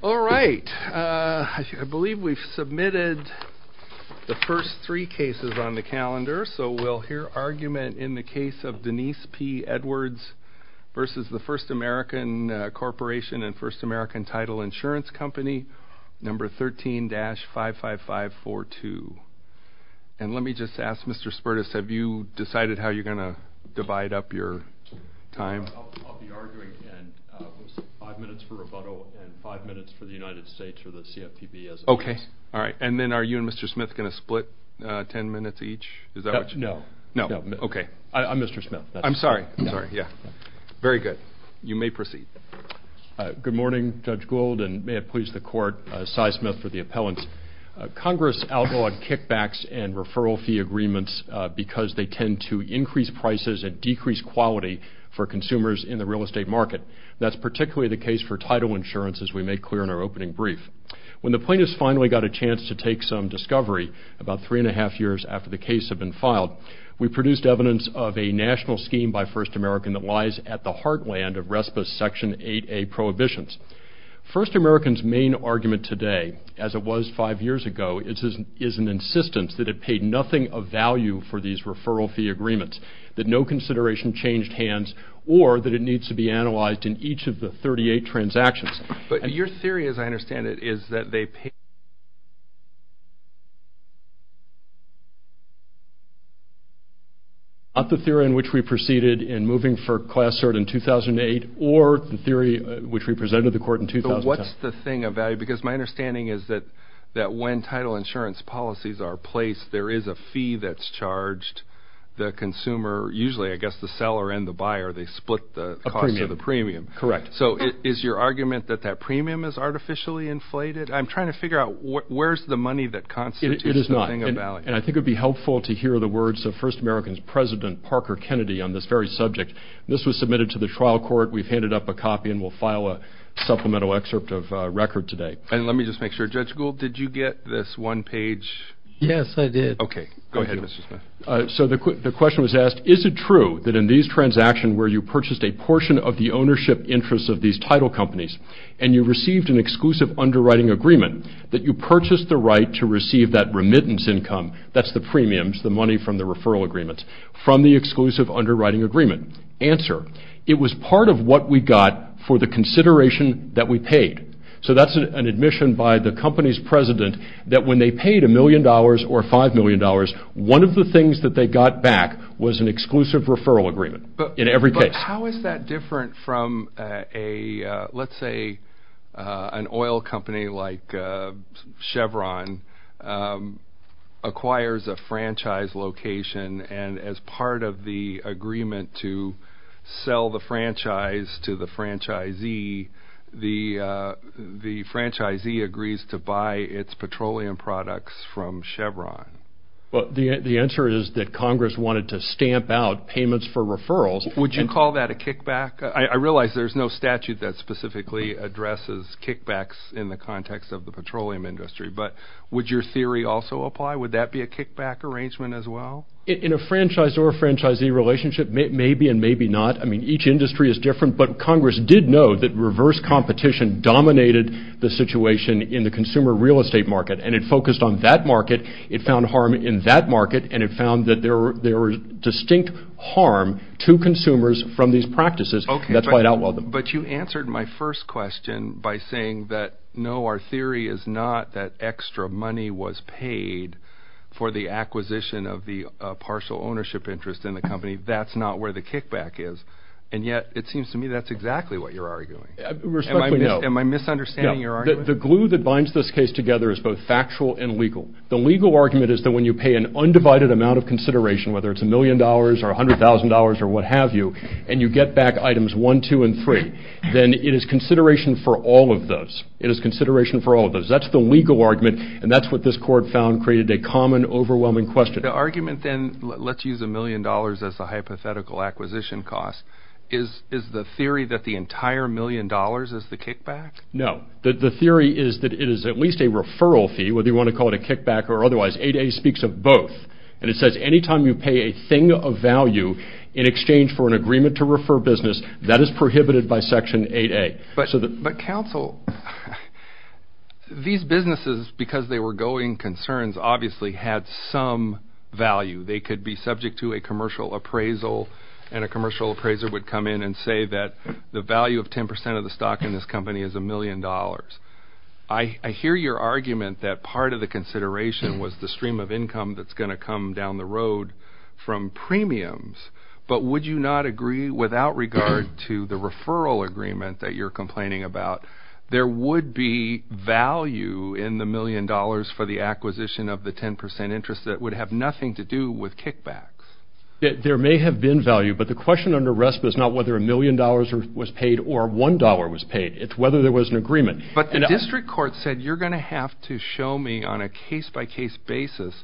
All right, I believe we've submitted the first three cases on the calendar, so we'll hear argument in the case of Denise P. Edwards v. The First American Corporation and First American Title Insurance Company, No. 13-55542. And let me just ask, Mr. Spertus, have you decided how you're going to divide up your time? I'll be arguing five minutes for rebuttal and five minutes for the United States or the CFPB. Okay. All right. And then are you and Mr. Smith going to split ten minutes each? No. No. Okay. I'm Mr. Smith. I'm sorry. I'm sorry. Yeah. Very good. You may proceed. Good morning, Judge Gould, and may it please the Court, Cy Smith for the appellant. Congress outlawed kickbacks and referral fee agreements because they tend to increase prices and decrease quality for consumers in the real estate market. That's particularly the case for title insurance, as we made clear in our opening brief. When the plaintiffs finally got a chance to take some discovery about three and a half years after the case had been filed, we produced evidence of a national scheme by First American that lies at the heartland of RESPA's Section 8A prohibitions. First American's main argument today, as it was five years ago, is an insistence that it paid nothing of value for these referral fee agreements, that no consideration changed hands, or that it needs to be analyzed in each of the 38 transactions. But your theory, as I understand it, is that they paid... Not the theory in which we proceeded in moving for Class Cert in 2008, or the theory which we presented to the Court in 2010. So what's the thing of value? Because my understanding is that when title insurance policies are placed, there is a fee that's charged. The consumer, usually I guess the seller and the buyer, they split the cost of the premium. Correct. So is your argument that that premium is artificially inflated? I'm trying to figure out where's the money that constitutes the thing of value. It is not. And I think it would be helpful to hear the words of First American's President Parker Kennedy on this very subject. This was submitted to the trial court. We've handed up a copy and we'll file a supplemental excerpt of record today. And let me just make sure. Judge Gould, did you get this one page? Yes, I did. Okay. Go ahead, Mr. Smith. So the question was asked, is it true that in these transactions where you purchased a portion of the ownership interest of these title companies, and you received an exclusive underwriting agreement, that you purchased the right to receive that remittance income, that's the premiums, the money from the referral agreement, from the exclusive underwriting agreement? Answer, it was part of what we got for the consideration that we paid. So that's an admission by the company's president that when they paid a million dollars or five million dollars, one of the things that they got back was an exclusive referral agreement in every case. How is that different from, let's say, an oil company like Chevron acquires a franchise location, and as part of the agreement to sell the franchise to the franchisee, the franchisee agrees to buy its petroleum products from Chevron? Well, the answer is that Congress wanted to stamp out payments for referrals. Would you call that a kickback? I realize there's no statute that specifically addresses kickbacks in the context of the petroleum industry, but would your theory also apply? Would that be a kickback arrangement as well? In a franchisor-franchisee relationship, maybe and maybe not. I mean, each industry is different, but Congress did know that reverse competition dominated the situation in the consumer real estate market, and it focused on that market. It found harm in that market, and it found that there was distinct harm to consumers from these practices. That's why it outlawed them. But you answered my first question by saying that, no, our theory is not that extra money was paid for the acquisition of the partial ownership interest in the company. That's not where the kickback is, and yet it seems to me that's exactly what you're arguing. Respectfully, no. Am I misunderstanding your argument? The glue that binds this case together is both factual and legal. The legal argument is that when you pay an undivided amount of consideration, whether it's a million dollars or $100,000 or what have you, and you get back items one, two, and three, then it is consideration for all of those. It is consideration for all of those. That's the legal argument, and that's what this court found created a common, overwhelming question. The argument then, let's use a million dollars as a hypothetical acquisition cost, is the theory that the entire million dollars is the kickback? No. The theory is that it is at least a referral fee, whether you want to call it a kickback or otherwise. 8A speaks of both, and it says anytime you pay a thing of value in exchange for an agreement to refer business, that is prohibited by Section 8A. But, counsel, these businesses, because they were going concerns, obviously had some value. They could be subject to a commercial appraisal, and a commercial appraiser would come in and say that the value of 10% of the stock in this company is a million dollars. I hear your argument that part of the consideration was the stream of income that's going to come down the road from premiums, but would you not agree without regard to the referral agreement that you're complaining about? There would be value in the million dollars for the acquisition of the 10% interest that would have nothing to do with kickbacks. There may have been value, but the question under RESPA is not whether a million dollars was paid or one dollar was paid. It's whether there was an agreement. But the district court said you're going to have to show me on a case-by-case basis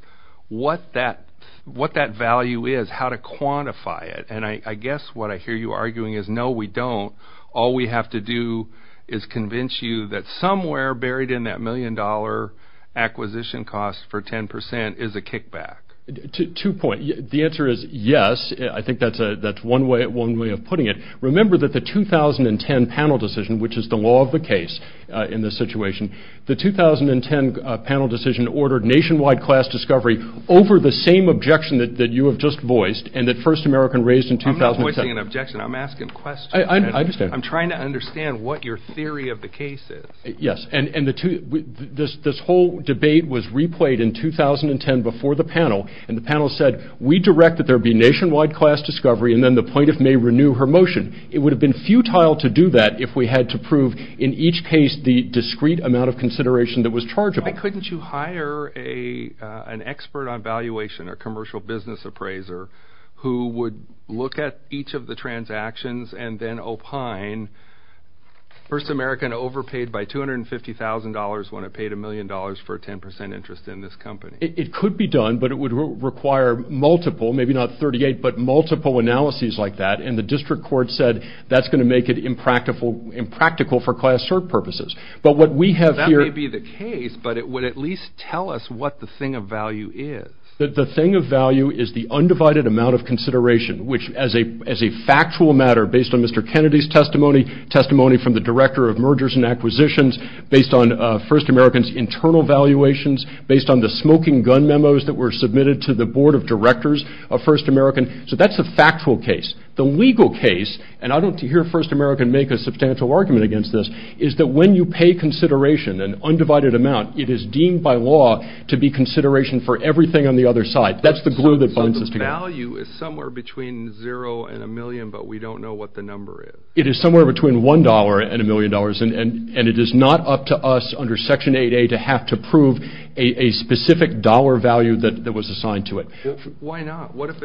what that value is, how to quantify it. And I guess what I hear you arguing is no, we don't. All we have to do is convince you that somewhere buried in that million dollar acquisition cost for 10% is a kickback. Two points. The answer is yes. I think that's one way of putting it. Remember that the 2010 panel decision, which is the law of the case in this situation, the 2010 panel decision ordered nationwide class discovery over the same objection that you have just voiced, and that First American raised in 2010. I'm not voicing an objection. I'm asking a question. I understand. I'm trying to understand what your theory of the case is. Yes. And this whole debate was replayed in 2010 before the panel, and the panel said, we direct that there be nationwide class discovery, and then the plaintiff may renew her motion. It would have been futile to do that if we had to prove in each case the discrete amount of consideration that was chargeable. Why couldn't you hire an expert on valuation, a commercial business appraiser, who would look at each of the transactions and then opine First American overpaid by $250,000 when it paid a million dollars for a 10% interest in this company? It could be done, but it would require multiple, maybe not 38, but multiple analyses like that, and the district court said that's going to make it impractical for class search purposes. But what we have here That may be the case, but it would at least tell us what the thing of value is. The thing of value is the undivided amount of consideration, which as a factual matter, based on Mr. Kennedy's testimony, testimony from the director of mergers and acquisitions, based on First American's internal valuations, based on the smoking gun memos that were submitted to the board of directors of First American. So that's a factual case. The legal case, and I don't hear First American make a substantial argument against this, is that when you pay consideration, an undivided amount, it is deemed by law to be consideration for everything on the other side. That's the glue that binds us together. So the value is somewhere between zero and a million, but we don't know what the number is. It is somewhere between one dollar and a million dollars, and it is not up to us under Section 8A to have to prove a specific dollar value that was assigned to it. Why not? What if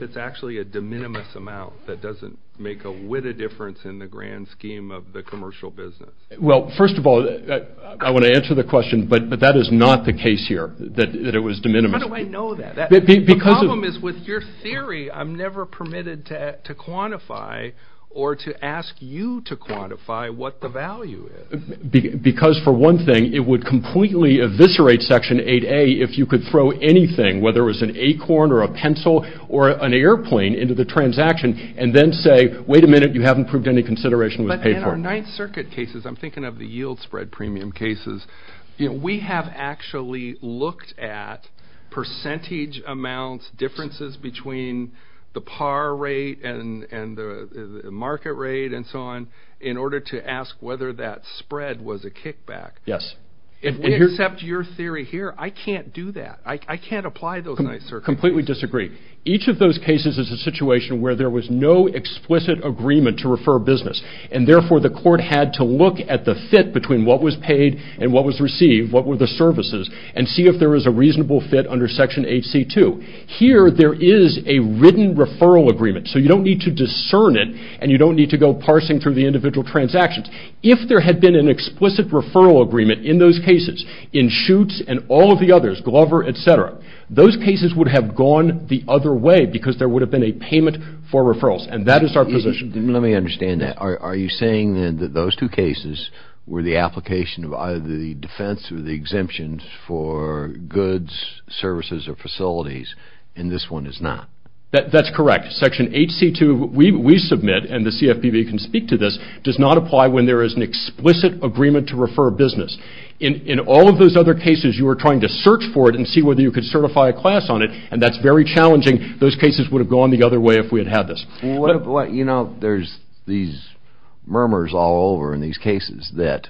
it's actually a de minimis amount that doesn't make a witted difference in the grand scheme of the commercial business? Well, first of all, I want to answer the question, but that is not the case here, that it was de minimis. How do I know that? The problem is with your theory, I'm never permitted to quantify or to ask you to quantify what the value is. Because for one thing, it would completely eviscerate Section 8A if you could throw anything, whether it was an acorn or a pencil or an airplane into the transaction, and then say, wait a minute, you haven't proved any consideration was paid for. But in our Ninth Circuit cases, I'm thinking of the yield spread premium cases, we have actually looked at percentage amounts, differences between the par rate and the market rate and so on, in order to ask whether that spread was a kickback. Yes. If we accept your theory here, I can't do that. I can't apply those Ninth Circuit cases. I completely disagree. Each of those cases is a situation where there was no explicit agreement to refer business, and therefore the court had to look at the fit between what was paid and what was received, what were the services, and see if there was a reasonable fit under Section 8C2. Here, there is a written referral agreement, so you don't need to discern it, and you don't need to go parsing through the individual transactions. If there had been an explicit referral agreement in those cases, in Schutz and all of the others, Glover, etc., those cases would have gone the other way because there would have been a payment for referrals, and that is our position. Let me understand that. Are you saying that those two cases were the application of either the defense or the exemptions for goods, services, or facilities, and this one is not? That's correct. Section 8C2, we submit, and the CFPB can speak to this, does not apply when there is an explicit agreement to refer business. In all of those other cases, you were trying to search for it and see whether you could certify a class on it, and that's very challenging. Those cases would have gone the other way if we had had this. You know, there's these murmurs all over in these cases that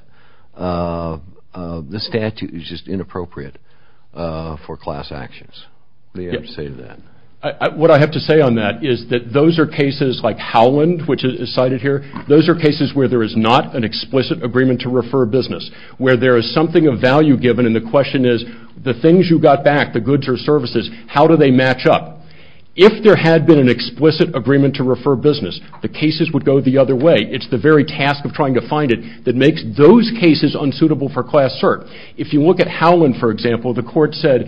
the statute is just inappropriate for class actions. What do you have to say to that? What I have to say on that is that those are cases like Howland, which is cited here, those are cases where there is not an explicit agreement to refer business, where there is something of value given and the question is, the things you got back, the goods or services, how do they match up? If there had been an explicit agreement to refer business, the cases would go the other way. It's the very task of trying to find it that makes those cases unsuitable for class cert. If you look at Howland, for example, the court said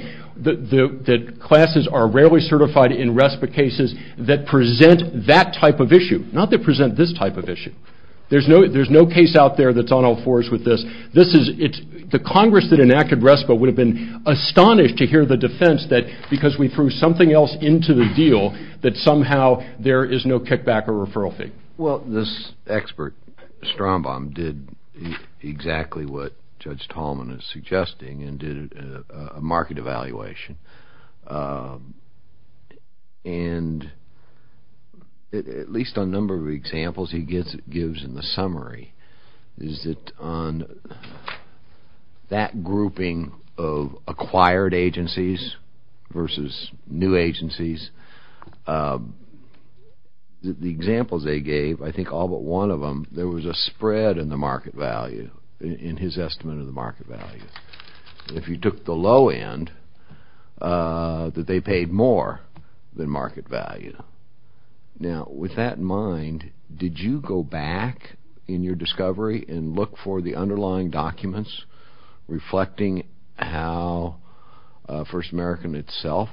that classes are rarely certified in RESPA cases that present that type of issue, not that present this type of issue. There's no case out there that's on all fours with this. The Congress that enacted RESPA would have been astonished to hear the defense that because we threw something else into the deal that somehow there is no kickback or referral fee. Well, this expert, Strombaum, did exactly what Judge Tallman is suggesting and did a market evaluation. And at least on a number of examples he gives in the summary, is that on that grouping of acquired agencies versus new agencies, the examples they gave, I think all but one of them, there was a spread in the market value, in his estimate of the market value. If you took the low end, that they paid more than market value. Now, with that in mind, did you go back in your discovery and look for the underlying documents reflecting how First American itself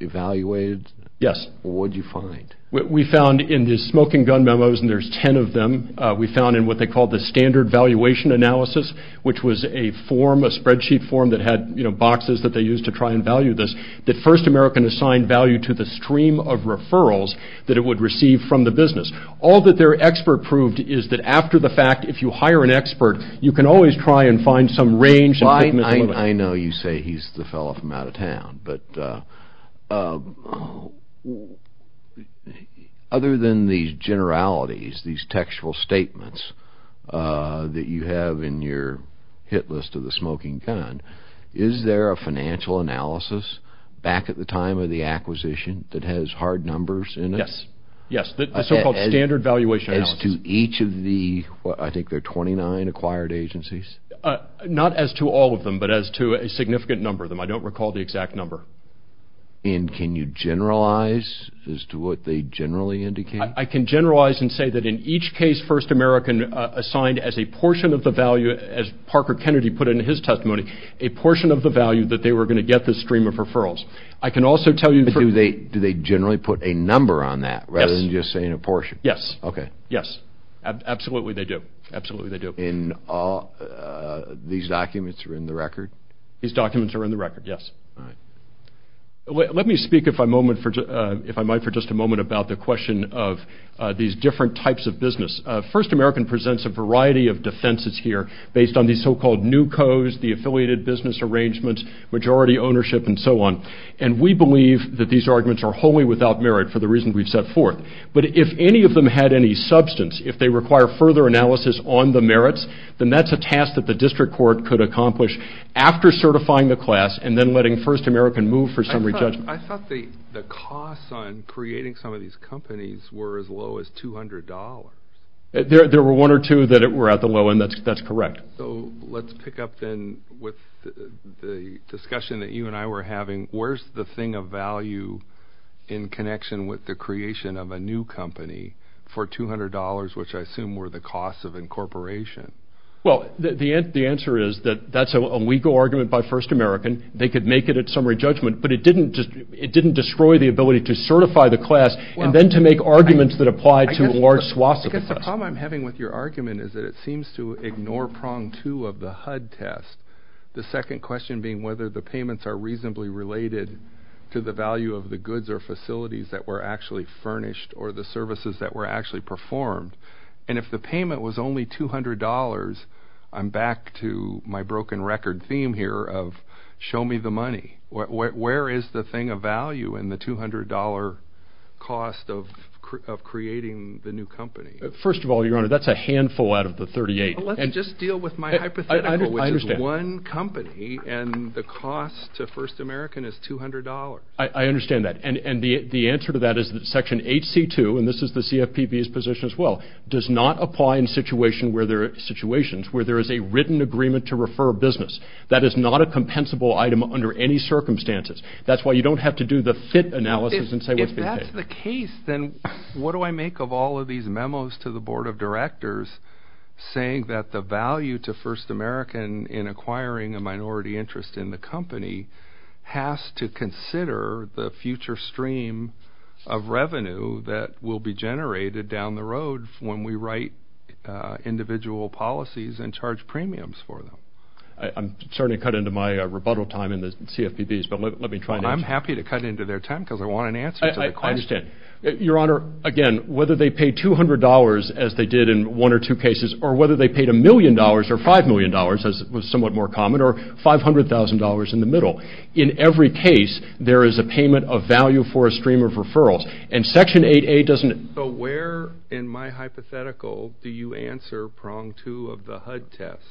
evaluated? Yes. What did you find? We found in the smoking gun memos, and there's ten of them, we found in what they call the standard valuation analysis, which was a form, a spreadsheet form that had boxes that they used to try and value this, that First American assigned value to the stream of referrals that it would receive from the business. All that their expert proved is that after the fact, if you hire an expert, you can always try and find some range. I know you say he's the fellow from out of town, but other than these generalities, these textual statements that you have in your hit list of the smoking gun, is there a financial analysis back at the time of the acquisition that has hard numbers in it? Yes. The so-called standard valuation analysis. To each of the, I think there are 29 acquired agencies? Not as to all of them, but as to a significant number of them. I don't recall the exact number. And can you generalize as to what they generally indicate? I can generalize and say that in each case First American assigned as a portion of the value, as Parker Kennedy put it in his testimony, a portion of the value that they were going to get this stream of referrals. I can also tell you... Do they generally put a number on that rather than just saying a portion? Yes. Okay. Yes. Absolutely they do. Absolutely they do. And these documents are in the record? These documents are in the record, yes. All right. Let me speak if I might for just a moment about the question of these different types of business. First American presents a variety of defenses here based on these so-called new codes, the affiliated business arrangements, majority ownership, and so on. And we believe that these arguments are wholly without merit for the reason we've set forth. But if any of them had any substance, if they require further analysis on the merits, then that's a task that the district court could accomplish after certifying the class and then letting First American move for summary judgment. I thought the costs on creating some of these companies were as low as $200. There were one or two that were at the low end. That's correct. So let's pick up then with the discussion that you and I were having. Where's the thing of value in connection with the creation of a new company for $200, which I assume were the costs of incorporation? Well, the answer is that that's a legal argument by First American. They could make it at summary judgment, but it didn't destroy the ability to certify the class and then to make arguments that apply to large swaths of the class. I guess the problem I'm having with your argument is that it seems to ignore prong two of the HUD test, the second question being whether the payments are reasonably related to the value of the goods or facilities that were actually furnished or the services that were actually performed. And if the payment was only $200, I'm back to my broken record theme here of show me the money. Where is the thing of value in the $200 cost of creating the new company? First of all, Your Honor, that's a handful out of the 38. Let's just deal with my hypothetical, which is one company and the cost to First American is $200. I understand that. And the answer to that is that Section 8C2, and this is the CFPB's position as well, does not apply in situations where there is a written agreement to refer a business. That is not a compensable item under any circumstances. That's why you don't have to do the fit analysis and say what's being paid. If that's the case, then what do I make of all of these memos to the Board of Directors saying that the value to First American in acquiring a minority interest in the company has to consider the future stream of revenue that will be generated down the road when we write individual policies and charge premiums for them? I'm starting to cut into my rebuttal time in the CFPB's, but let me try to answer. I understand. Your Honor, again, whether they paid $200, as they did in one or two cases, or whether they paid $1 million or $5 million, as was somewhat more common, or $500,000 in the middle, in every case there is a payment of value for a stream of referrals. And Section 8A doesn't... So where in my hypothetical do you answer prong two of the HUD test?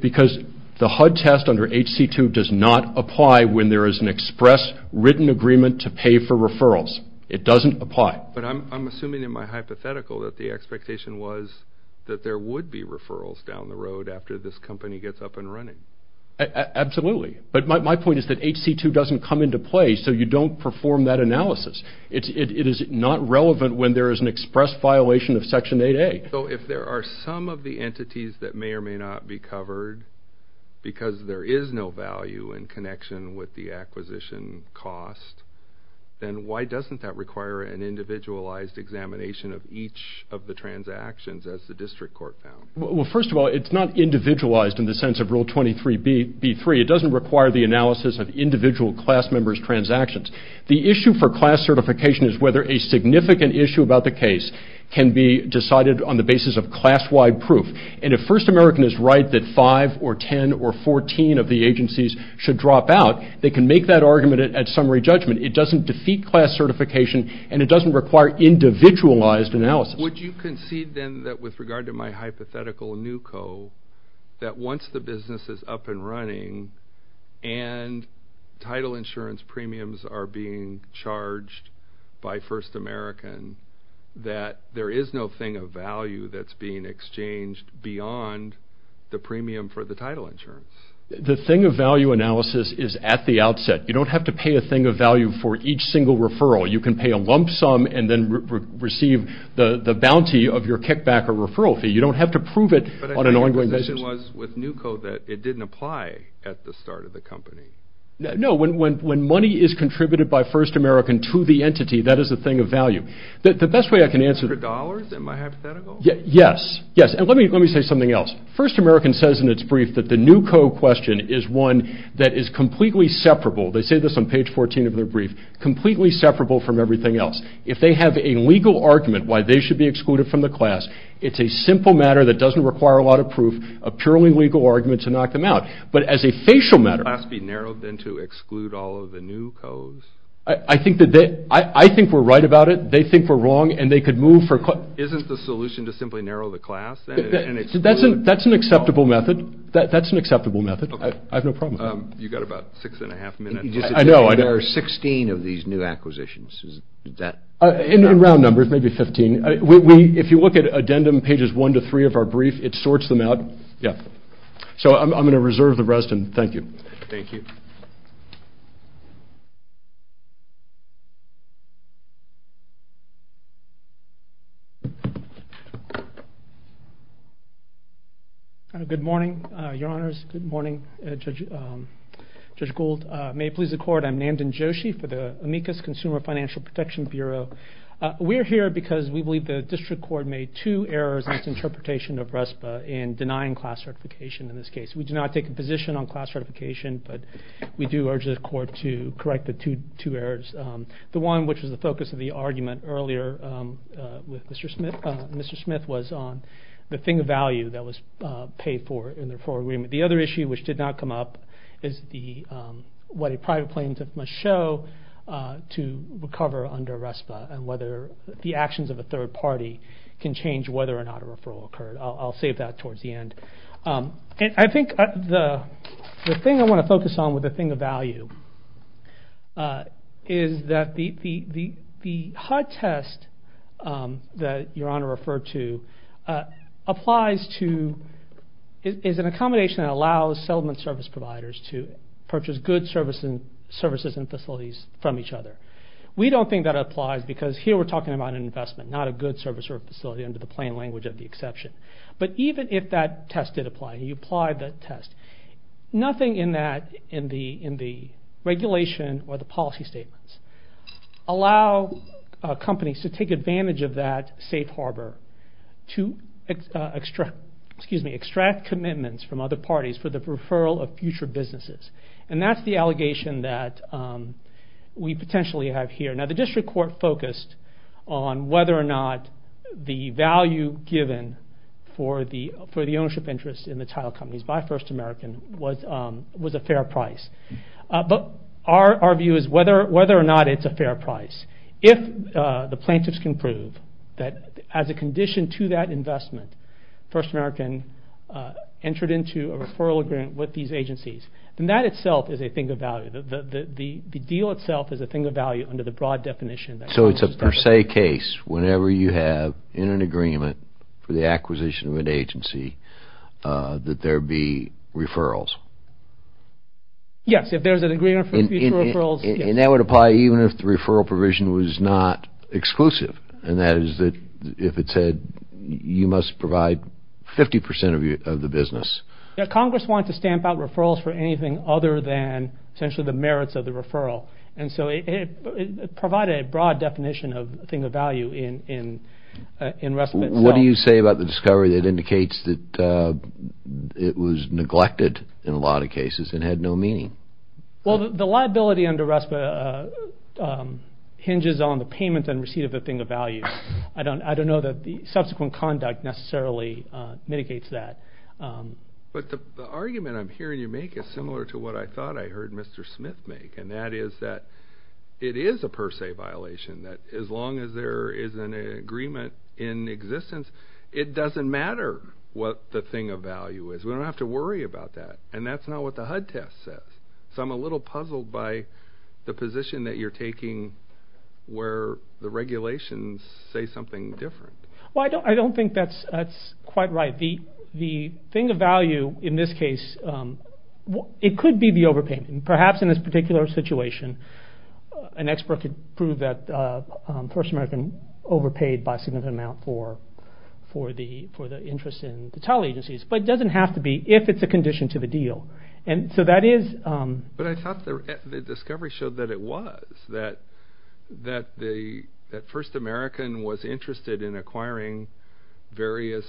Because the HUD test under HC2 does not apply when there is an express written agreement to pay for referrals. It doesn't apply. But I'm assuming in my hypothetical that the expectation was that there would be referrals down the road after this company gets up and running. Absolutely. But my point is that HC2 doesn't come into play, so you don't perform that analysis. It is not relevant when there is an express violation of Section 8A. So if there are some of the entities that may or may not be covered because there is no value in connection with the acquisition cost, then why doesn't that require an individualized examination of each of the transactions as the district court found? Well, first of all, it's not individualized in the sense of Rule 23b-3. It doesn't require the analysis of individual class members' transactions. The issue for class certification is whether a significant issue about the case can be decided on the basis of class-wide proof. And if First American is right that 5 or 10 or 14 of the agencies should drop out, they can make that argument at summary judgment. It doesn't defeat class certification, and it doesn't require individualized analysis. Would you concede then that with regard to my hypothetical NUCO, that once the business is up and running and title insurance premiums are being charged by First American, that there is no thing of value that's being exchanged beyond the premium for the title insurance? The thing of value analysis is at the outset. You don't have to pay a thing of value for each single referral. You can pay a lump sum and then receive the bounty of your kickback or referral fee. You don't have to prove it on an ongoing basis. But I think your position was with NUCO that it didn't apply at the start of the company. No, when money is contributed by First American to the entity, that is a thing of value. The best way I can answer... For dollars in my hypothetical? Yes. And let me say something else. First American says in its brief that the NUCO question is one that is completely separable. They say this on page 14 of their brief. Completely separable from everything else. If they have a legal argument why they should be excluded from the class, it's a simple matter that doesn't require a lot of proof, a purely legal argument to knock them out. But as a facial matter... Would the class be narrowed then to exclude all of the NUCOs? I think we're right about it. They think we're wrong and they could move for... Isn't the solution to simply narrow the class? That's an acceptable method. That's an acceptable method. I have no problem with that. You've got about six and a half minutes. I know. There are 16 of these new acquisitions. In round numbers, maybe 15. If you look at addendum pages 1 to 3 of our brief, it sorts them out. So I'm going to reserve the rest and thank you. Thank you. Good morning, Your Honors. Good morning, Judge Gould. May it please the Court, I'm Nandan Joshi for the Amicus Consumer Financial Protection Bureau. We're here because we believe the district court made two errors in its interpretation of RESPA in denying class certification in this case. We do not take a position on class certification, but we do urge the court to correct the two errors. The one, which was the focus of the argument earlier with Mr. Smith, was on the thing of value that was paid for in the referral agreement. The other issue, which did not come up, is what a private plaintiff must show to recover under RESPA and whether the actions of a third party can change whether or not a referral occurred. I'll save that towards the end. I think the thing I want to focus on with the thing of value is that the HUD test that Your Honor referred to applies to an accommodation that allows settlement service providers to purchase good services and facilities from each other. We don't think that applies because here we're talking about an investment, not a good service or facility under the plain language of the exception. But even if that test did apply, nothing in the regulation or the policy statements allow companies to take advantage of that safe harbor to extract commitments from other parties for the referral of future businesses. And that's the allegation that we potentially have here. Now the district court focused on whether or not the value given for the ownership interest in the title companies by First American was a fair price. But our view is whether or not it's a fair price. If the plaintiffs can prove that as a condition to that investment First American entered into a referral agreement with these agencies, then that itself is a thing of value. The deal itself is a thing of value under the broad definition. So it's a per se case whenever you have in an agreement for the acquisition of an agency that there be referrals. Yes, if there's an agreement for future referrals. And that would apply even if the referral provision was not exclusive, and that is if it said you must provide 50% of the business. Congress wants to stamp out referrals for anything other than essentially the merits of the referral. And so it provided a broad definition of a thing of value in RESPA itself. What do you say about the discovery that indicates that it was neglected in a lot of cases and had no meaning? Well, the liability under RESPA hinges on the payment and receipt of the thing of value. I don't know that the subsequent conduct necessarily mitigates that. But the argument I'm hearing you make is similar to what I thought I heard Mr. Smith make, and that is that it is a per se violation, that as long as there is an agreement in existence, it doesn't matter what the thing of value is. We don't have to worry about that. And that's not what the HUD test says. So I'm a little puzzled by the position that you're taking where the regulations say something different. Well, I don't think that's quite right. The thing of value in this case, it could be the overpayment. And perhaps in this particular situation, an expert could prove that First American overpaid by a significant amount for the interest in the title agencies. But it doesn't have to be if it's a condition to the deal. But I thought the discovery showed that it was, that First American was interested in acquiring various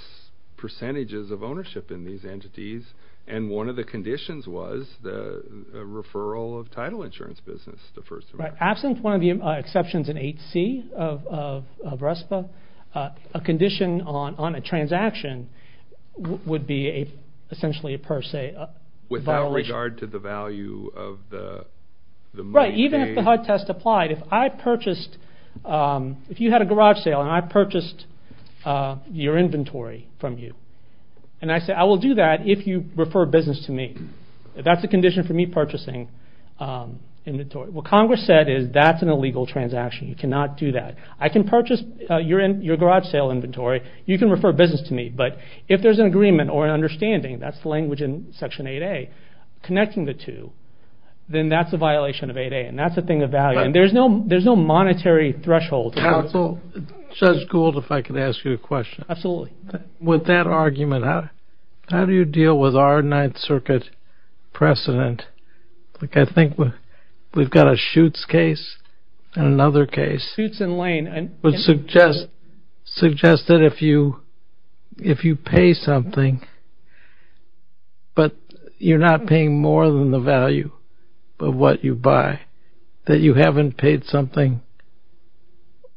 percentages of ownership in these entities, and one of the conditions was the referral of title insurance business to First American. Absent one of the exceptions in 8C of RESPA, a condition on a transaction would be essentially a per se violation. Without regard to the value of the money. That's right, even if the HUD test applied, if I purchased, if you had a garage sale and I purchased your inventory from you, and I say I will do that if you refer business to me. That's a condition for me purchasing inventory. What Congress said is that's an illegal transaction. You cannot do that. I can purchase your garage sale inventory. You can refer business to me. But if there's an agreement or an understanding, that's the language in Section 8A, connecting the two, then that's a violation of 8A, and that's a thing of value. There's no monetary threshold. Counsel, Judge Gould, if I could ask you a question. Absolutely. With that argument, how do you deal with our Ninth Circuit precedent? I think we've got a Schutz case and another case. Schutz and Lane. Suggest that if you pay something, but you're not paying more than the value of what you buy, that you haven't paid something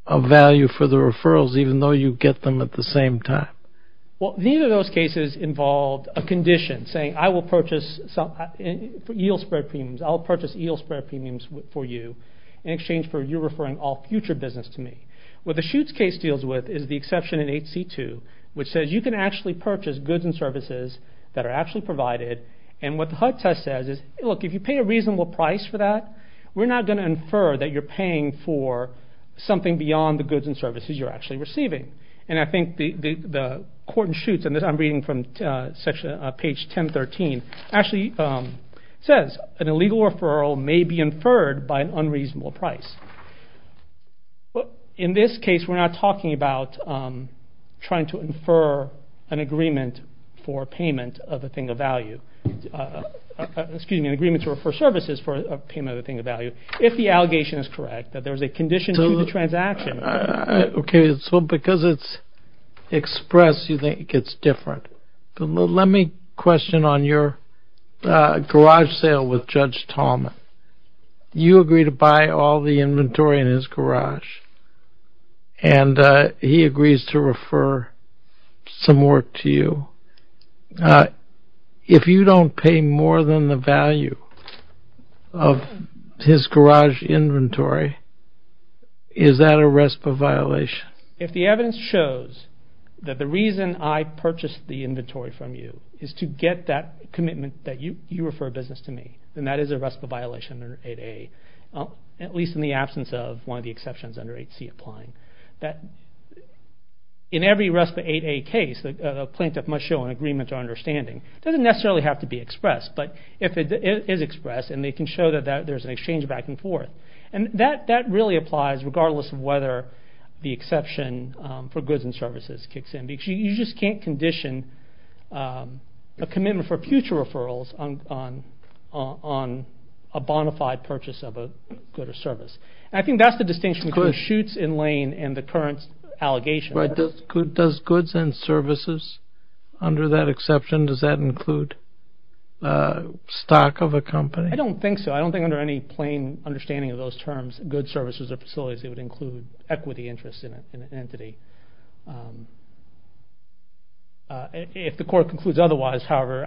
of value for the referrals even though you get them at the same time. Well, neither of those cases involved a condition saying I will purchase yield spread premiums. I'll purchase yield spread premiums for you in exchange for you referring all future business to me. What the Schutz case deals with is the exception in 8C2, which says you can actually purchase goods and services that are actually provided, and what the HUD test says is, look, if you pay a reasonable price for that, we're not going to infer that you're paying for something beyond the goods and services you're actually receiving. I think the court in Schutz, and I'm reading from page 1013, actually says an illegal referral may be inferred by an unreasonable price. In this case, we're not talking about trying to infer an agreement for services for payment of a thing of value if the allegation is correct that there is a condition to the transaction. Okay, so because it's expressed, you think it's different. Let me question on your garage sale with Judge Talman. You agree to buy all the inventory in his garage, and he agrees to refer some work to you. If you don't pay more than the value of his garage inventory, is that a RESPA violation? If the evidence shows that the reason I purchased the inventory from you is to get that commitment that you refer business to me, then that is a RESPA violation under 8A, at least in the absence of one of the exceptions under 8C applying. In every RESPA 8A case, a plaintiff must show an agreement or understanding. It doesn't necessarily have to be expressed, but if it is expressed, then they can show that there's an exchange back and forth. And that really applies regardless of whether the exception for goods and services kicks in. You just can't condition a commitment for future referrals on a bona fide purchase of a good or service. And I think that's the distinction between shoots in lane and the current allegation. Right. Does goods and services under that exception, does that include stock of a company? I don't think so. I don't think under any plain understanding of those terms, goods, services, or facilities, it would include equity interest in an entity. If the court concludes otherwise, however,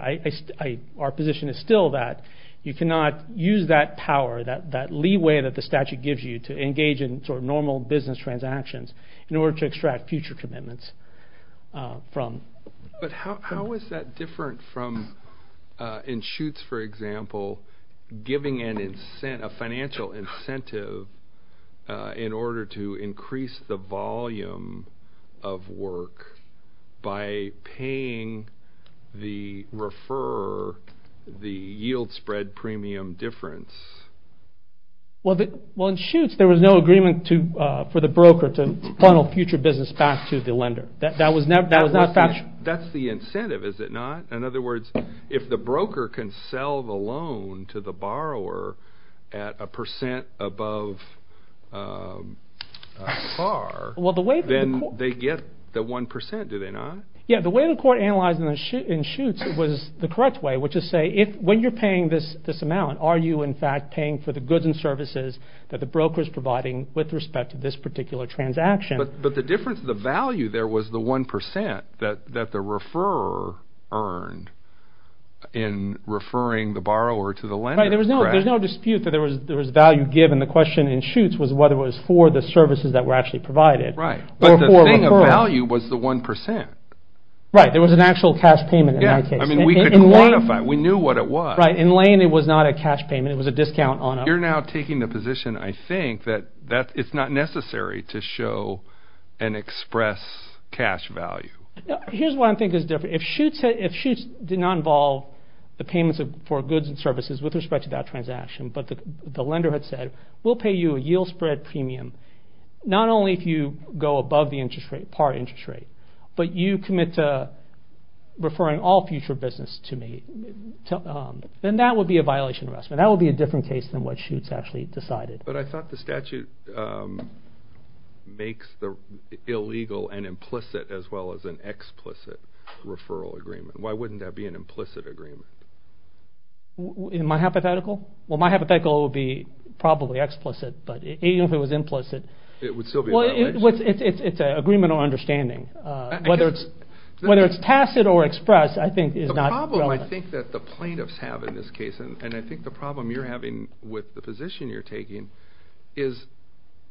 our position is still that you cannot use that power, that leeway that the statute gives you to engage in sort of normal business transactions in order to extract future commitments from. But how is that different from in shoots, for example, giving a financial incentive in order to increase the volume of work by paying the refer, the yield spread premium difference? Well, in shoots, there was no agreement for the broker to funnel future business back to the lender. That was not factual. That's the incentive, is it not? In other words, if the broker can sell the loan to the borrower at a percent above par, then they get the 1%. Do they not? Yeah. The way the court analyzed in shoots was the correct way, which is to say when you're paying this amount, are you in fact paying for the goods and services that the broker is providing with respect to this particular transaction? But the difference, the value there was the 1% that the referrer earned in referring the borrower to the lender. Right. There was no dispute that there was value given. The question in shoots was whether it was for the services that were actually provided. Right. But the thing of value was the 1%. Right. There was an actual cash payment in that case. Yeah. I mean, we could quantify. We knew what it was. Right. In lane, it was not a cash payment. It was a discount on it. You're now taking the position, I think, that it's not necessary to show and express cash value. Here's what I think is different. If shoots did not involve the payments for goods and services with respect to that transaction, but the lender had said, we'll pay you a yield spread premium, not only if you go above the interest rate, par interest rate, but you commit to referring all future business to me, then that would be a violation of investment. That would be a different case than what shoots actually decided. But I thought the statute makes the illegal and implicit as well as an explicit referral agreement. Why wouldn't that be an implicit agreement? Am I hypothetical? Well, my hypothetical would be probably explicit, but even if it was implicit. It would still be a violation. Well, it's an agreement on understanding. Whether it's tacit or express, I think, is not relevant. The problem, I think, that the plaintiffs have in this case, and I think the problem you're having with the position you're taking, is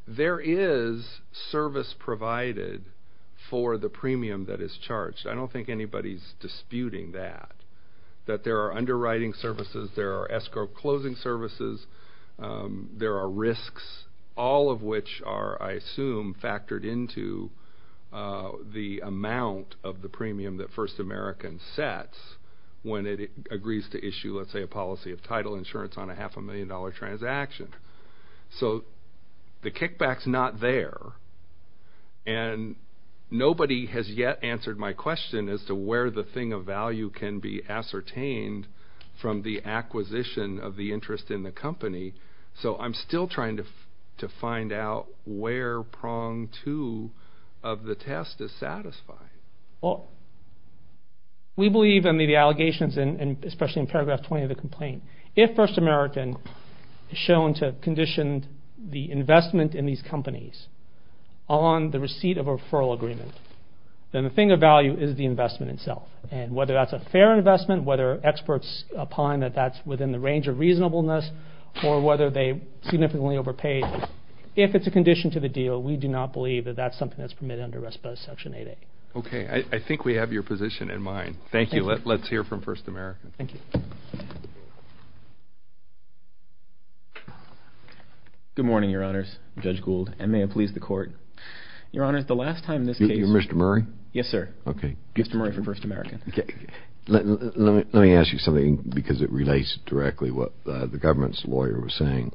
there is service provided for the premium that is charged. I don't think anybody's disputing that. That there are underwriting services, there are escrow closing services, there are risks, all of which are, I assume, factored into the amount of the premium that First American sets when it agrees to issue, let's say, a policy of title insurance on a half-a-million-dollar transaction. So the kickback's not there. And nobody has yet answered my question as to where the thing of value can be ascertained from the acquisition of the interest in the company. So I'm still trying to find out where prong two of the test is satisfying. We believe in the allegations, especially in paragraph 20 of the complaint. If First American is shown to have conditioned the investment in these companies on the receipt of a referral agreement, then the thing of value is the investment itself. And whether that's a fair investment, whether experts opine that that's within the range of reasonableness, or whether they're significantly overpaid, if it's a condition to the deal, we do not believe that that's something that's permitted under RESPA Section 8A. Okay. I think we have your position in mind. Thank you. Let's hear from First American. Thank you. Good morning, Your Honors. I'm Judge Gould, and may it please the Court. Your Honors, the last time this case— You're Mr. Murray? Yes, sir. Okay. Mr. Murray for First American. Let me ask you something, because it relates directly to what the government's lawyer was saying.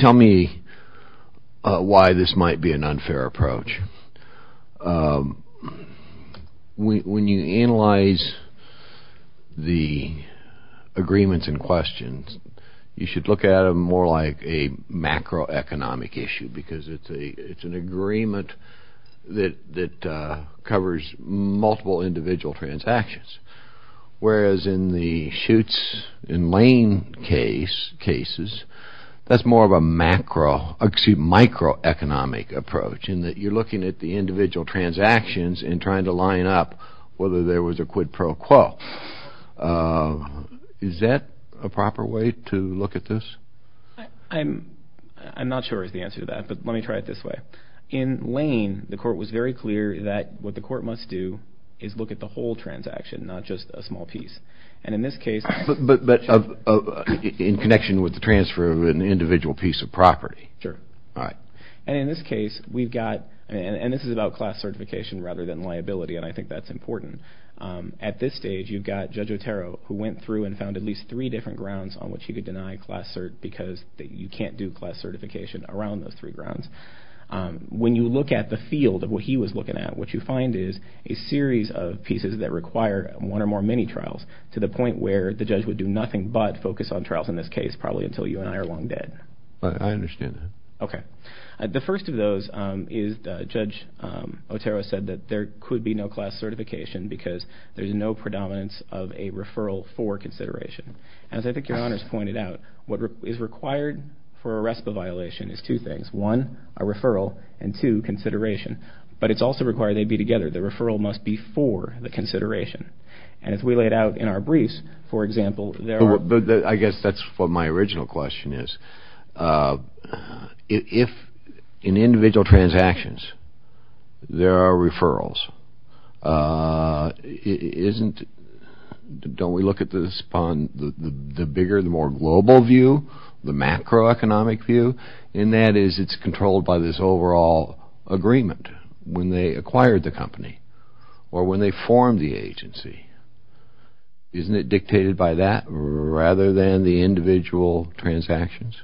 Tell me why this might be an unfair approach. When you analyze the agreements and questions, you should look at them more like a macroeconomic issue, because it's an agreement that covers multiple individual transactions. Whereas in the Schutz and Lane cases, that's more of a macro— that you're looking at the individual transactions and trying to line up whether there was a quid pro quo. Is that a proper way to look at this? I'm not sure is the answer to that, but let me try it this way. In Lane, the Court was very clear that what the Court must do is look at the whole transaction, not just a small piece. But in connection with the transfer of an individual piece of property. Sure. All right. And in this case, we've got—and this is about class certification rather than liability, and I think that's important. At this stage, you've got Judge Otero, who went through and found at least three different grounds on which he could deny class certification, because you can't do class certification around those three grounds. When you look at the field of what he was looking at, what you find is a series of pieces that require one or more mini-trials, to the point where the judge would do nothing but focus on trials in this case, probably until you and I are long dead. I understand that. Okay. The first of those is Judge Otero said that there could be no class certification because there's no predominance of a referral for consideration. As I think Your Honor's pointed out, what is required for a RESPA violation is two things. One, a referral, and two, consideration. But it's also required they be together. The referral must be for the consideration. And as we laid out in our briefs, for example, there are— I guess that's what my original question is. If in individual transactions there are referrals, isn't—don't we look at this upon the bigger, the more global view, the macroeconomic view? And that is it's controlled by this overall agreement when they acquired the company or when they formed the agency. Isn't it dictated by that rather than the individual transactions?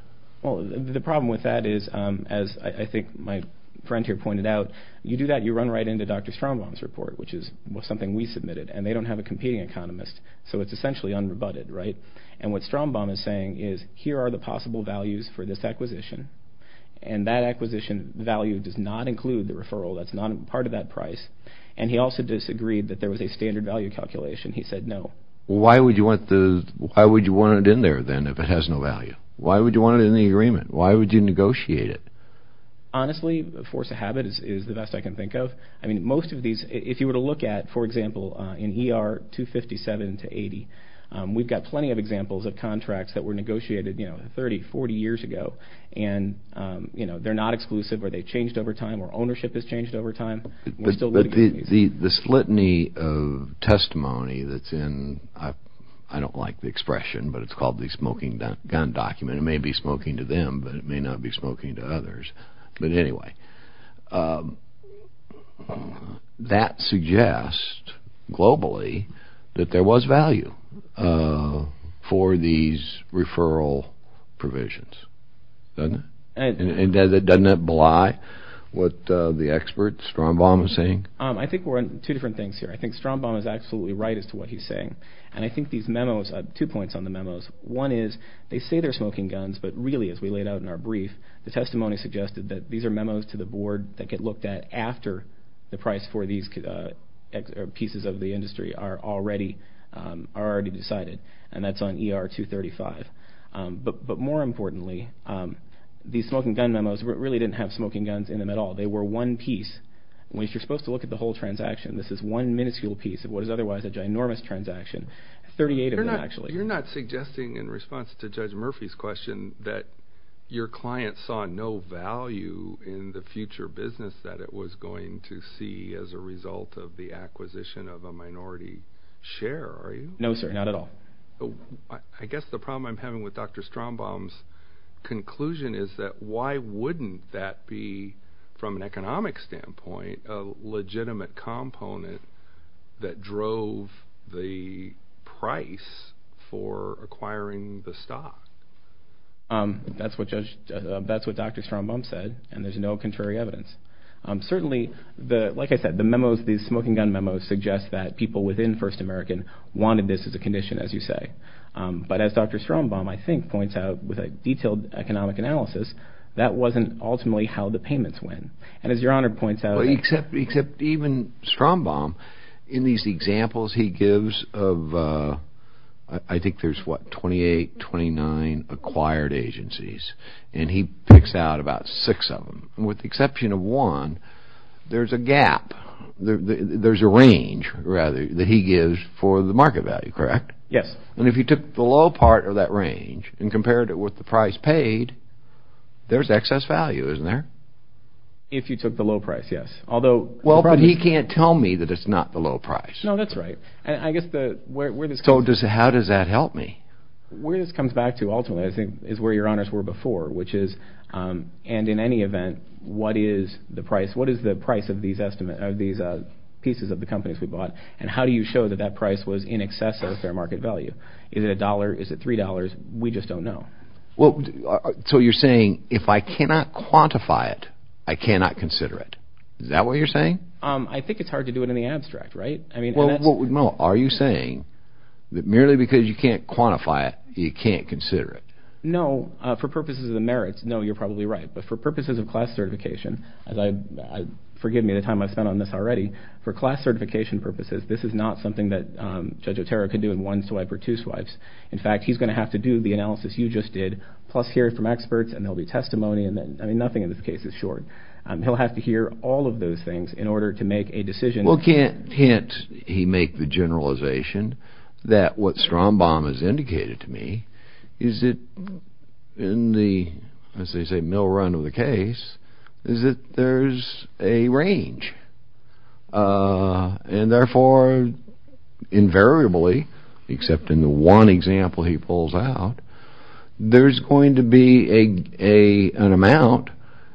Well, the problem with that is, as I think my friend here pointed out, you do that, you run right into Dr. Strombaum's report, which is something we submitted, and they don't have a competing economist. So it's essentially unrebutted, right? And what Strombaum is saying is here are the possible values for this acquisition, and that acquisition value does not include the referral. That's not part of that price. And he also disagreed that there was a standard value calculation. He said no. Why would you want it in there, then, if it has no value? Why would you want it in the agreement? Why would you negotiate it? Honestly, the force of habit is the best I can think of. I mean, most of these, if you were to look at, for example, in ER 257 to 80, we've got plenty of examples of contracts that were negotiated 30, 40 years ago, and they're not exclusive or they've changed over time or ownership has changed over time. But the litany of testimony that's in, I don't like the expression, but it's called the smoking gun document. It may be smoking to them, but it may not be smoking to others. But anyway, that suggests globally that there was value for these referral provisions. Doesn't it? What the expert, Strombaum, is saying? I think we're on two different things here. I think Strombaum is absolutely right as to what he's saying. And I think these memos, two points on the memos. One is they say they're smoking guns, but really, as we laid out in our brief, the testimony suggested that these are memos to the board that get looked at after the price for these pieces of the industry are already decided, and that's on ER 235. But more importantly, these smoking gun memos really didn't have smoking guns in them at all. They were one piece. If you're supposed to look at the whole transaction, this is one minuscule piece of what is otherwise a ginormous transaction, 38 of them actually. You're not suggesting in response to Judge Murphy's question that your client saw no value in the future business that it was going to see as a result of the acquisition of a minority share, are you? No, sir, not at all. I guess the problem I'm having with Dr. Strombaum's conclusion is that why wouldn't that be, from an economic standpoint, a legitimate component that drove the price for acquiring the stock? That's what Dr. Strombaum said, and there's no contrary evidence. Certainly, like I said, the memos, these smoking gun memos, suggest that people within First American wanted this as a condition, as you say. But as Dr. Strombaum, I think, points out with a detailed economic analysis, that wasn't ultimately how the payments went. And as Your Honor points out, Except even Strombaum, in these examples he gives of, I think there's what, 28, 29 acquired agencies, and he picks out about six of them. With the exception of one, there's a gap, there's a range, rather, that he gives for the market value, correct? Yes. And if you took the low part of that range and compared it with the price paid, there's excess value, isn't there? If you took the low price, yes. Well, but he can't tell me that it's not the low price. No, that's right. So how does that help me? Where this comes back to, ultimately, I think, is where Your Honors were before, which is, and in any event, what is the price of these pieces of the companies we bought, and how do you show that that price was in excess of a fair market value? Is it $1, is it $3? We just don't know. So you're saying, if I cannot quantify it, I cannot consider it. Is that what you're saying? I think it's hard to do it in the abstract, right? Are you saying that merely because you can't quantify it, you can't consider it? No. For purposes of the merits, no, you're probably right. But for purposes of class certification, forgive me the time I've spent on this already, for class certification purposes, this is not something that Judge Otero can do in one swipe or two swipes. In fact, he's going to have to do the analysis you just did, plus hear it from experts, and there will be testimony, and nothing in this case is short. He'll have to hear all of those things in order to make a decision. Well, can't he make the generalization that what Strombaum has indicated to me is that in the, as they say, mill run of the case, is that there's a range. And therefore, invariably, except in the one example he pulls out, there's going to be an amount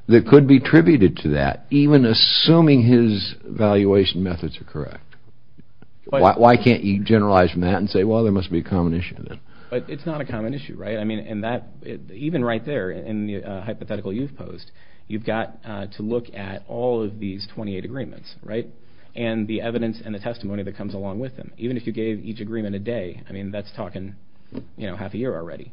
that could be tributed to that, even assuming his valuation methods are correct. Why can't you generalize from that and say, well, there must be a combination of that? But it's not a common issue, right? I mean, even right there in the hypothetical you've posed, you've got to look at all of these 28 agreements, right, and the evidence and the testimony that comes along with them. Even if you gave each agreement a day, I mean, that's talking half a year already.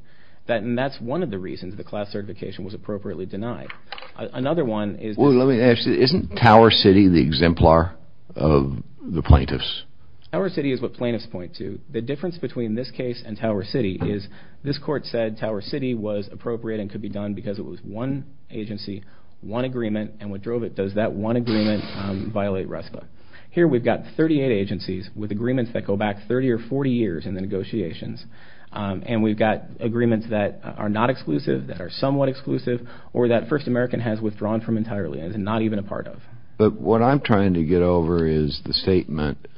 And that's one of the reasons the class certification was appropriately denied. Another one is... Well, let me ask you, isn't Tower City the exemplar of the plaintiffs? Tower City is what plaintiffs point to. The difference between this case and Tower City is this court said Tower City was appropriate and could be done because it was one agency, one agreement, and what drove it does that one agreement violate RESPA. Here we've got 38 agencies with agreements that go back 30 or 40 years in the negotiations, and we've got agreements that are not exclusive, that are somewhat exclusive, or that First American has withdrawn from entirely and is not even a part of. But what I'm trying to get over is the statement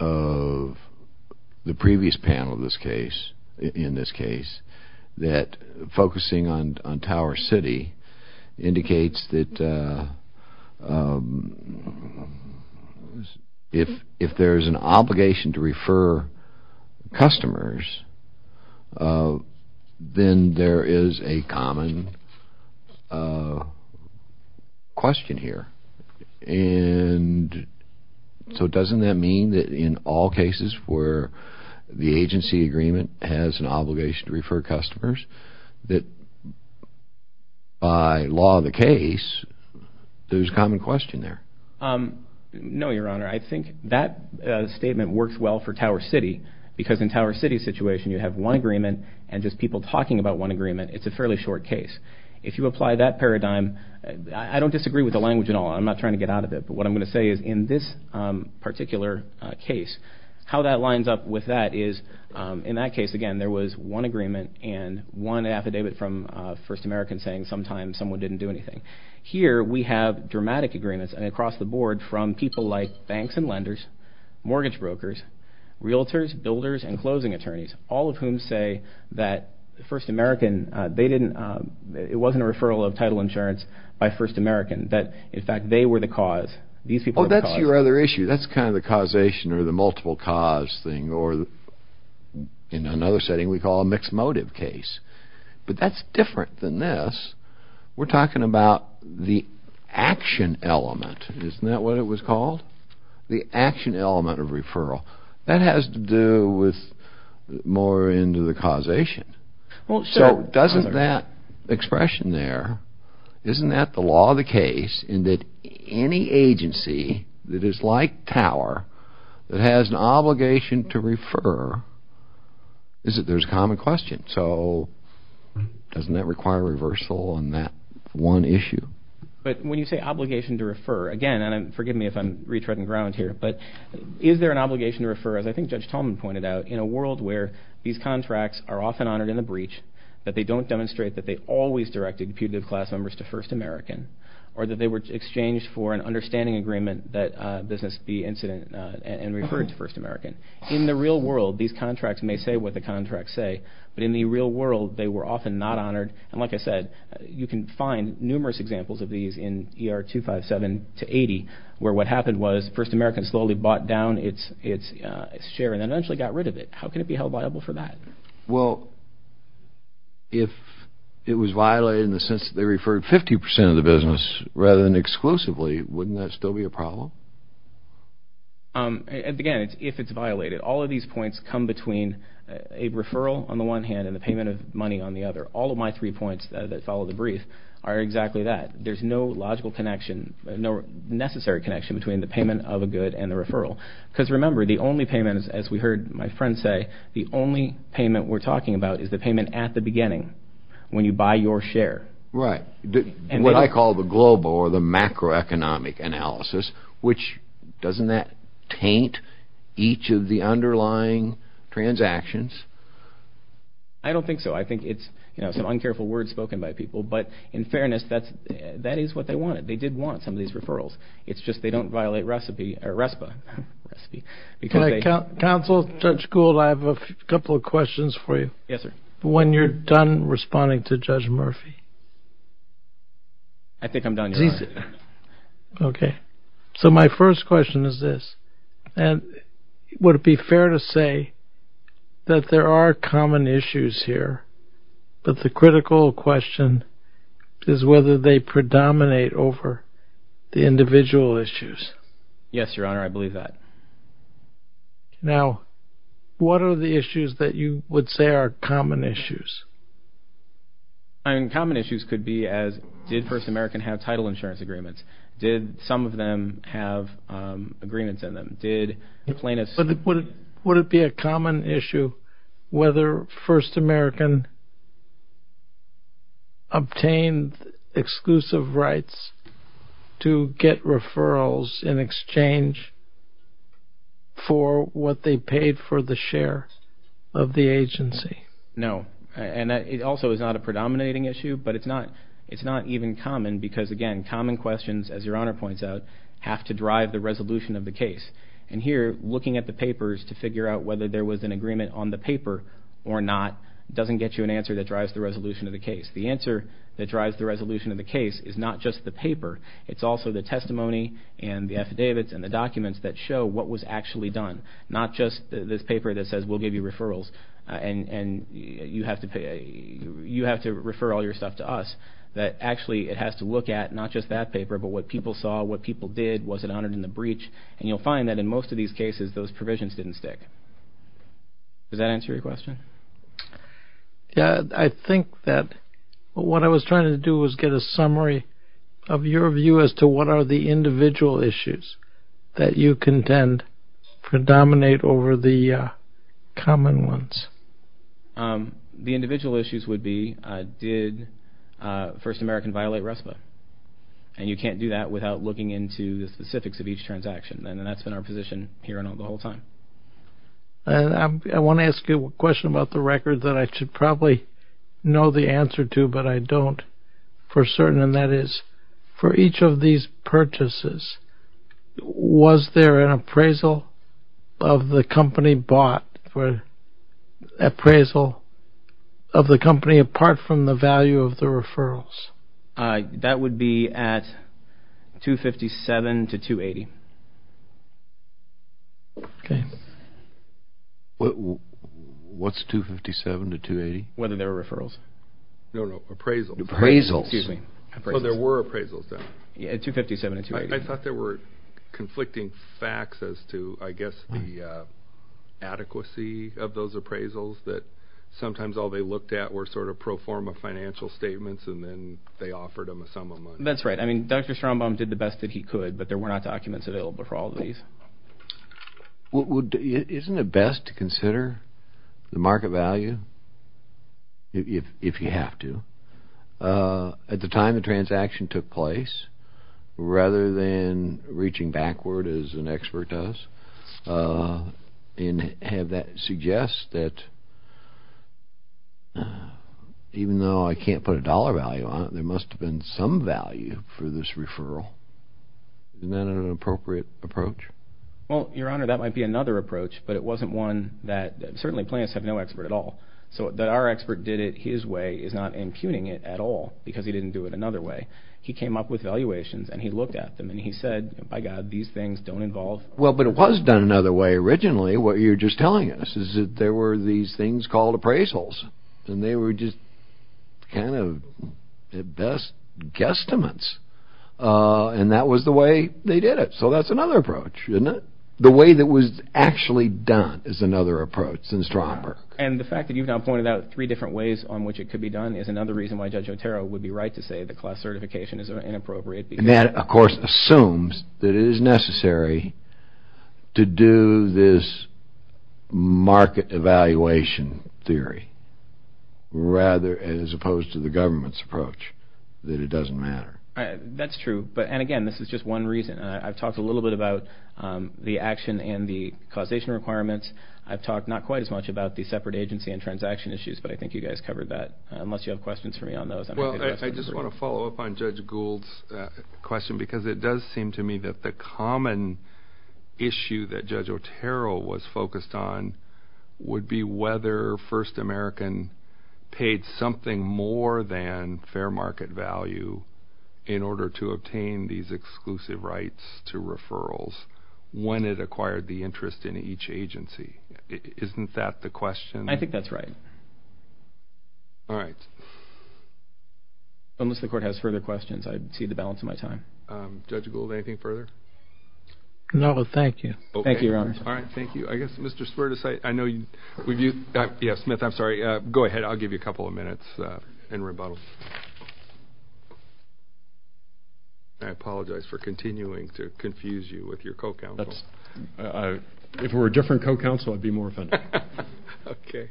of the previous panel in this case that focusing on Tower City indicates that if there is an obligation to refer customers, then there is a common question here. And so doesn't that mean that in all cases where the agency agreement has an obligation to refer customers, that by law of the case, there's a common question there? No, Your Honor. I think that statement works well for Tower City because in Tower City's situation, you have one agreement and just people talking about one agreement. It's a fairly short case. If you apply that paradigm, I don't disagree with the language at all. I'm not trying to get out of it, but what I'm going to say is in this particular case, how that lines up with that is in that case, again, there was one agreement and one affidavit from First American saying sometimes someone didn't do anything. Here, we have dramatic agreements across the board from people like banks and lenders, mortgage brokers, realtors, builders, and closing attorneys, all of whom say that First American, it wasn't a referral of title insurance by First American, that in fact they were the cause. Oh, that's your other issue. That's kind of the causation or the multiple cause thing or in another setting we call a mixed motive case. But that's different than this. We're talking about the action element. Isn't that what it was called? The action element of referral. That has to do with more into the causation. So doesn't that expression there, isn't that the law of the case in that any agency that is like Tower that has an obligation to refer, there's a common question. So doesn't that require reversal on that one issue? But when you say obligation to refer, again, and forgive me if I'm retreading ground here, but is there an obligation to refer, as I think Judge Tolman pointed out, in a world where these contracts are often honored in a breach, that they don't demonstrate that they always directed putative class members to First American or that they were exchanged for an understanding agreement that business be incident and referred to First American. In the real world these contracts may say what the contracts say, but in the real world they were often not honored. And like I said, you can find numerous examples of these in ER 257 to 80 where what happened was First American slowly bought down its share and then eventually got rid of it. How can it be held liable for that? Well, if it was violated in the sense that they referred 50% of the business rather than exclusively, wouldn't that still be a problem? Again, if it's violated, all of these points come between a referral on the one hand and the payment of money on the other. All of my three points that follow the brief are exactly that. There's no logical connection, no necessary connection between the payment of a good and the referral. Because remember, the only payment, as we heard my friend say, the only payment we're talking about is the payment at the beginning when you buy your share. Right. What I call the global or the macroeconomic analysis, which doesn't that taint each of the underlying transactions? I don't think so. I think it's some uncareful words spoken by people. But in fairness, that is what they wanted. They did want some of these referrals. It's just they don't violate RESPA. Counsel, Judge Gould, I have a couple of questions for you. Yes, sir. When you're done responding to Judge Murphy? I think I'm done, Your Honor. Okay. So my first question is this. Would it be fair to say that there are common issues here, but the critical question is whether they predominate over the individual issues? Yes, Your Honor. I believe that. Now, what are the issues that you would say are common issues? Common issues could be as did First American have title insurance agreements? Did some of them have agreements in them? Would it be a common issue whether First American obtained exclusive rights to get referrals in exchange for what they paid for the share of the agency? No. And it also is not a predominating issue, but it's not even common because, again, common questions, as Your Honor points out, have to drive the resolution of the case. And here, looking at the papers to figure out whether there was an agreement on the paper or not doesn't get you an answer that drives the resolution of the case. The answer that drives the resolution of the case is not just the paper. It's also the testimony and the affidavits and the documents that show what was actually done, not just this paper that says we'll give you referrals and you have to refer all your stuff to us. Actually, it has to look at not just that paper, but what people saw, what people did, was it honored in the breach, and you'll find that in most of these cases those provisions didn't stick. Does that answer your question? Yes. I think that what I was trying to do was get a summary of your view as to what are the individual issues that you contend predominate over the common ones. The individual issues would be did First American violate RESPA? And you can't do that without looking into the specifics of each transaction, and that's been our position here the whole time. I want to ask you a question about the record that I should probably know the answer to, but I don't for certain, and that is for each of these purchases, was there an appraisal of the company bought for appraisal of the company apart from the value of the referrals? That would be at $257 to $280. What's $257 to $280? Whether there were referrals. No, no, appraisals. Appraisals. Oh, there were appraisals then. Yeah, $257 to $280. I thought there were conflicting facts as to, I guess, the adequacy of those appraisals that sometimes all they looked at were sort of pro forma financial statements and then they offered them a sum of money. That's right. I mean, Dr. Strombaum did the best that he could, but there were not documents available for all of these. Isn't it best to consider the market value if you have to at the time the transaction took place rather than reaching backward as an expert does and have that suggest that even though I can't put a dollar value on it, there must have been some value for this referral. Isn't that an appropriate approach? Well, Your Honor, that might be another approach, but it wasn't one that certainly plants have no expert at all. So that our expert did it his way is not impugning it at all because he didn't do it another way. He came up with valuations and he looked at them and he said, by God, these things don't involve... Well, but it was done another way originally. What you're just telling us is that there were these things called appraisals and they were just kind of at best guesstimates and that was the way they did it. So that's another approach, isn't it? The way that was actually done is another approach in Stromberg. And the fact that you've now pointed out three different ways on which it could be done is another reason why Judge Otero would be right to say that class certification is inappropriate because... That it is necessary to do this market evaluation theory rather as opposed to the government's approach that it doesn't matter. That's true. And again, this is just one reason. I've talked a little bit about the action and the causation requirements. I've talked not quite as much about the separate agency and transaction issues, but I think you guys covered that unless you have questions for me on those. Well, I just want to follow up on Judge Gould's question because it does seem to me that the common issue that Judge Otero was focused on would be whether First American paid something more than fair market value in order to obtain these exclusive rights to referrals when it acquired the interest in each agency. Isn't that the question? I think that's right. All right. Unless the court has further questions, I'd cede the balance of my time. Judge Gould, anything further? No, thank you. Thank you, Your Honor. All right, thank you. I guess Mr. Swerdis, I know you've used... Yeah, Smith, I'm sorry. Go ahead. I'll give you a couple of minutes in rebuttal. I apologize for continuing to confuse you with your co-counsel. If it were a different co-counsel, I'd be more offended. Okay.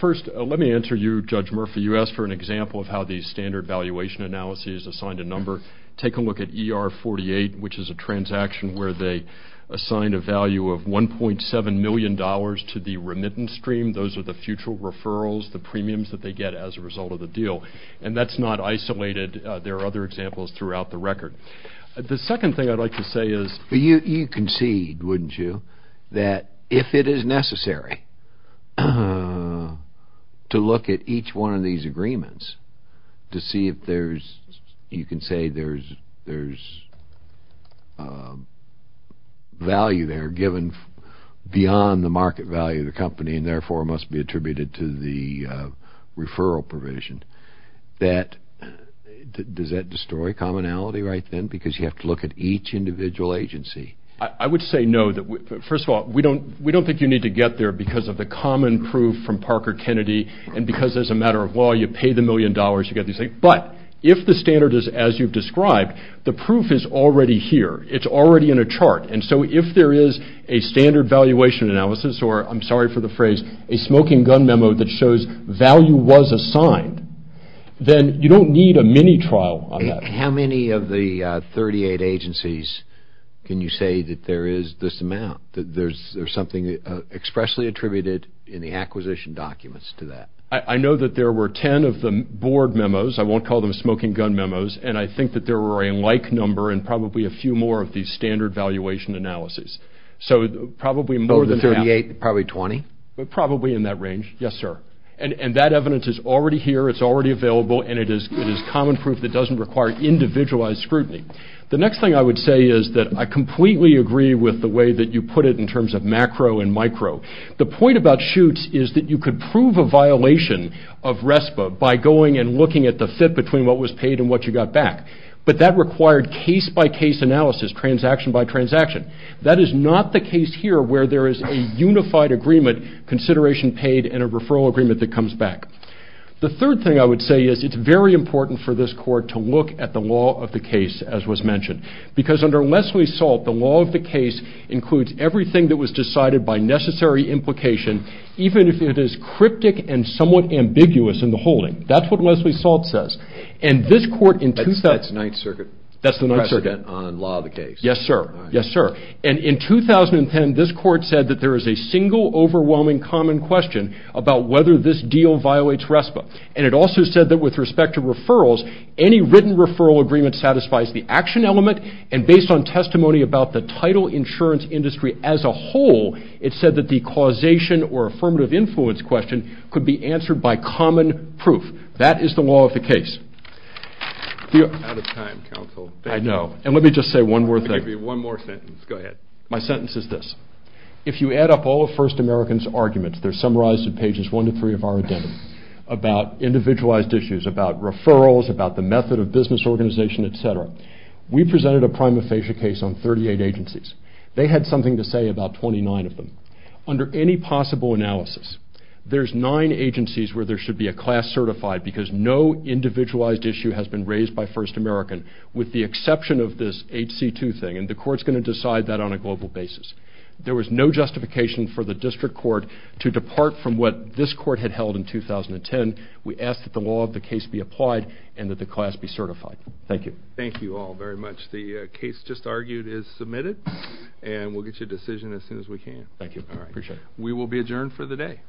First, let me answer you, Judge Murphy. You asked for an example of how these standard valuation analyses assigned a number. Take a look at ER-48, which is a transaction where they assigned a value of $1.7 million to the remittance stream. Those are the future referrals, the premiums that they get as a result of the deal, and that's not isolated. There are other examples throughout the record. The second thing I'd like to say is... If it is necessary to look at each one of these agreements to see if there's... You can say there's value there given beyond the market value of the company and therefore must be attributed to the referral provision, does that destroy commonality right then because you have to look at each individual agency? I would say no. First of all, we don't think you need to get there because of the common proof from Parker Kennedy and because as a matter of law, you pay the million dollars, you get these things. But if the standard is as you've described, the proof is already here. It's already in a chart. And so if there is a standard valuation analysis or, I'm sorry for the phrase, a smoking gun memo that shows value was assigned, then you don't need a mini-trial on that. How many of the 38 agencies can you say that there is this amount, that there's something expressly attributed in the acquisition documents to that? I know that there were 10 of the board memos. I won't call them smoking gun memos. And I think that there were a like number and probably a few more of these standard valuation analyses. So probably more than half. Of the 38, probably 20? Probably in that range, yes, sir. And that evidence is already here, it's already available, and it is common proof that doesn't require individualized scrutiny. The next thing I would say is that I completely agree with the way that you put it in terms of macro and micro. The point about chutes is that you could prove a violation of RESPA by going and looking at the fit between what was paid and what you got back. But that required case-by-case analysis, transaction-by-transaction. That is not the case here where there is a unified agreement, consideration paid and a referral agreement that comes back. The third thing I would say is it's very important for this court to look at the law of the case, as was mentioned. Because under Leslie Salt, the law of the case includes everything that was decided by necessary implication, even if it is cryptic and somewhat ambiguous in the holding. That's what Leslie Salt says. That's the Ninth Circuit precedent on law of the case? Yes, sir. Yes, sir. And in 2010, this court said that there is a single overwhelming common question about whether this deal violates RESPA. And it also said that with respect to referrals, any written referral agreement satisfies the action element, and based on testimony about the title insurance industry as a whole, it said that the causation or affirmative influence question could be answered by common proof. That is the law of the case. Out of time, counsel. I know. And let me just say one more thing. Go ahead. My sentence is this. If you add up all of First American's arguments, they're summarized in pages one to three of our agenda, about individualized issues, about referrals, about the method of business organization, et cetera, we presented a prima facie case on 38 agencies. They had something to say about 29 of them. Under any possible analysis, there's nine agencies where there should be a class certified because no individualized issue has been raised by First American, with the exception of this HC2 thing, and the court's going to decide that on a global basis. There was no justification for the district court to depart from what this court had held in 2010. We ask that the law of the case be applied and that the class be certified. Thank you. Thank you all very much. The case just argued is submitted, and we'll get you a decision as soon as we can. Thank you. I appreciate it. We will be adjourned for the day.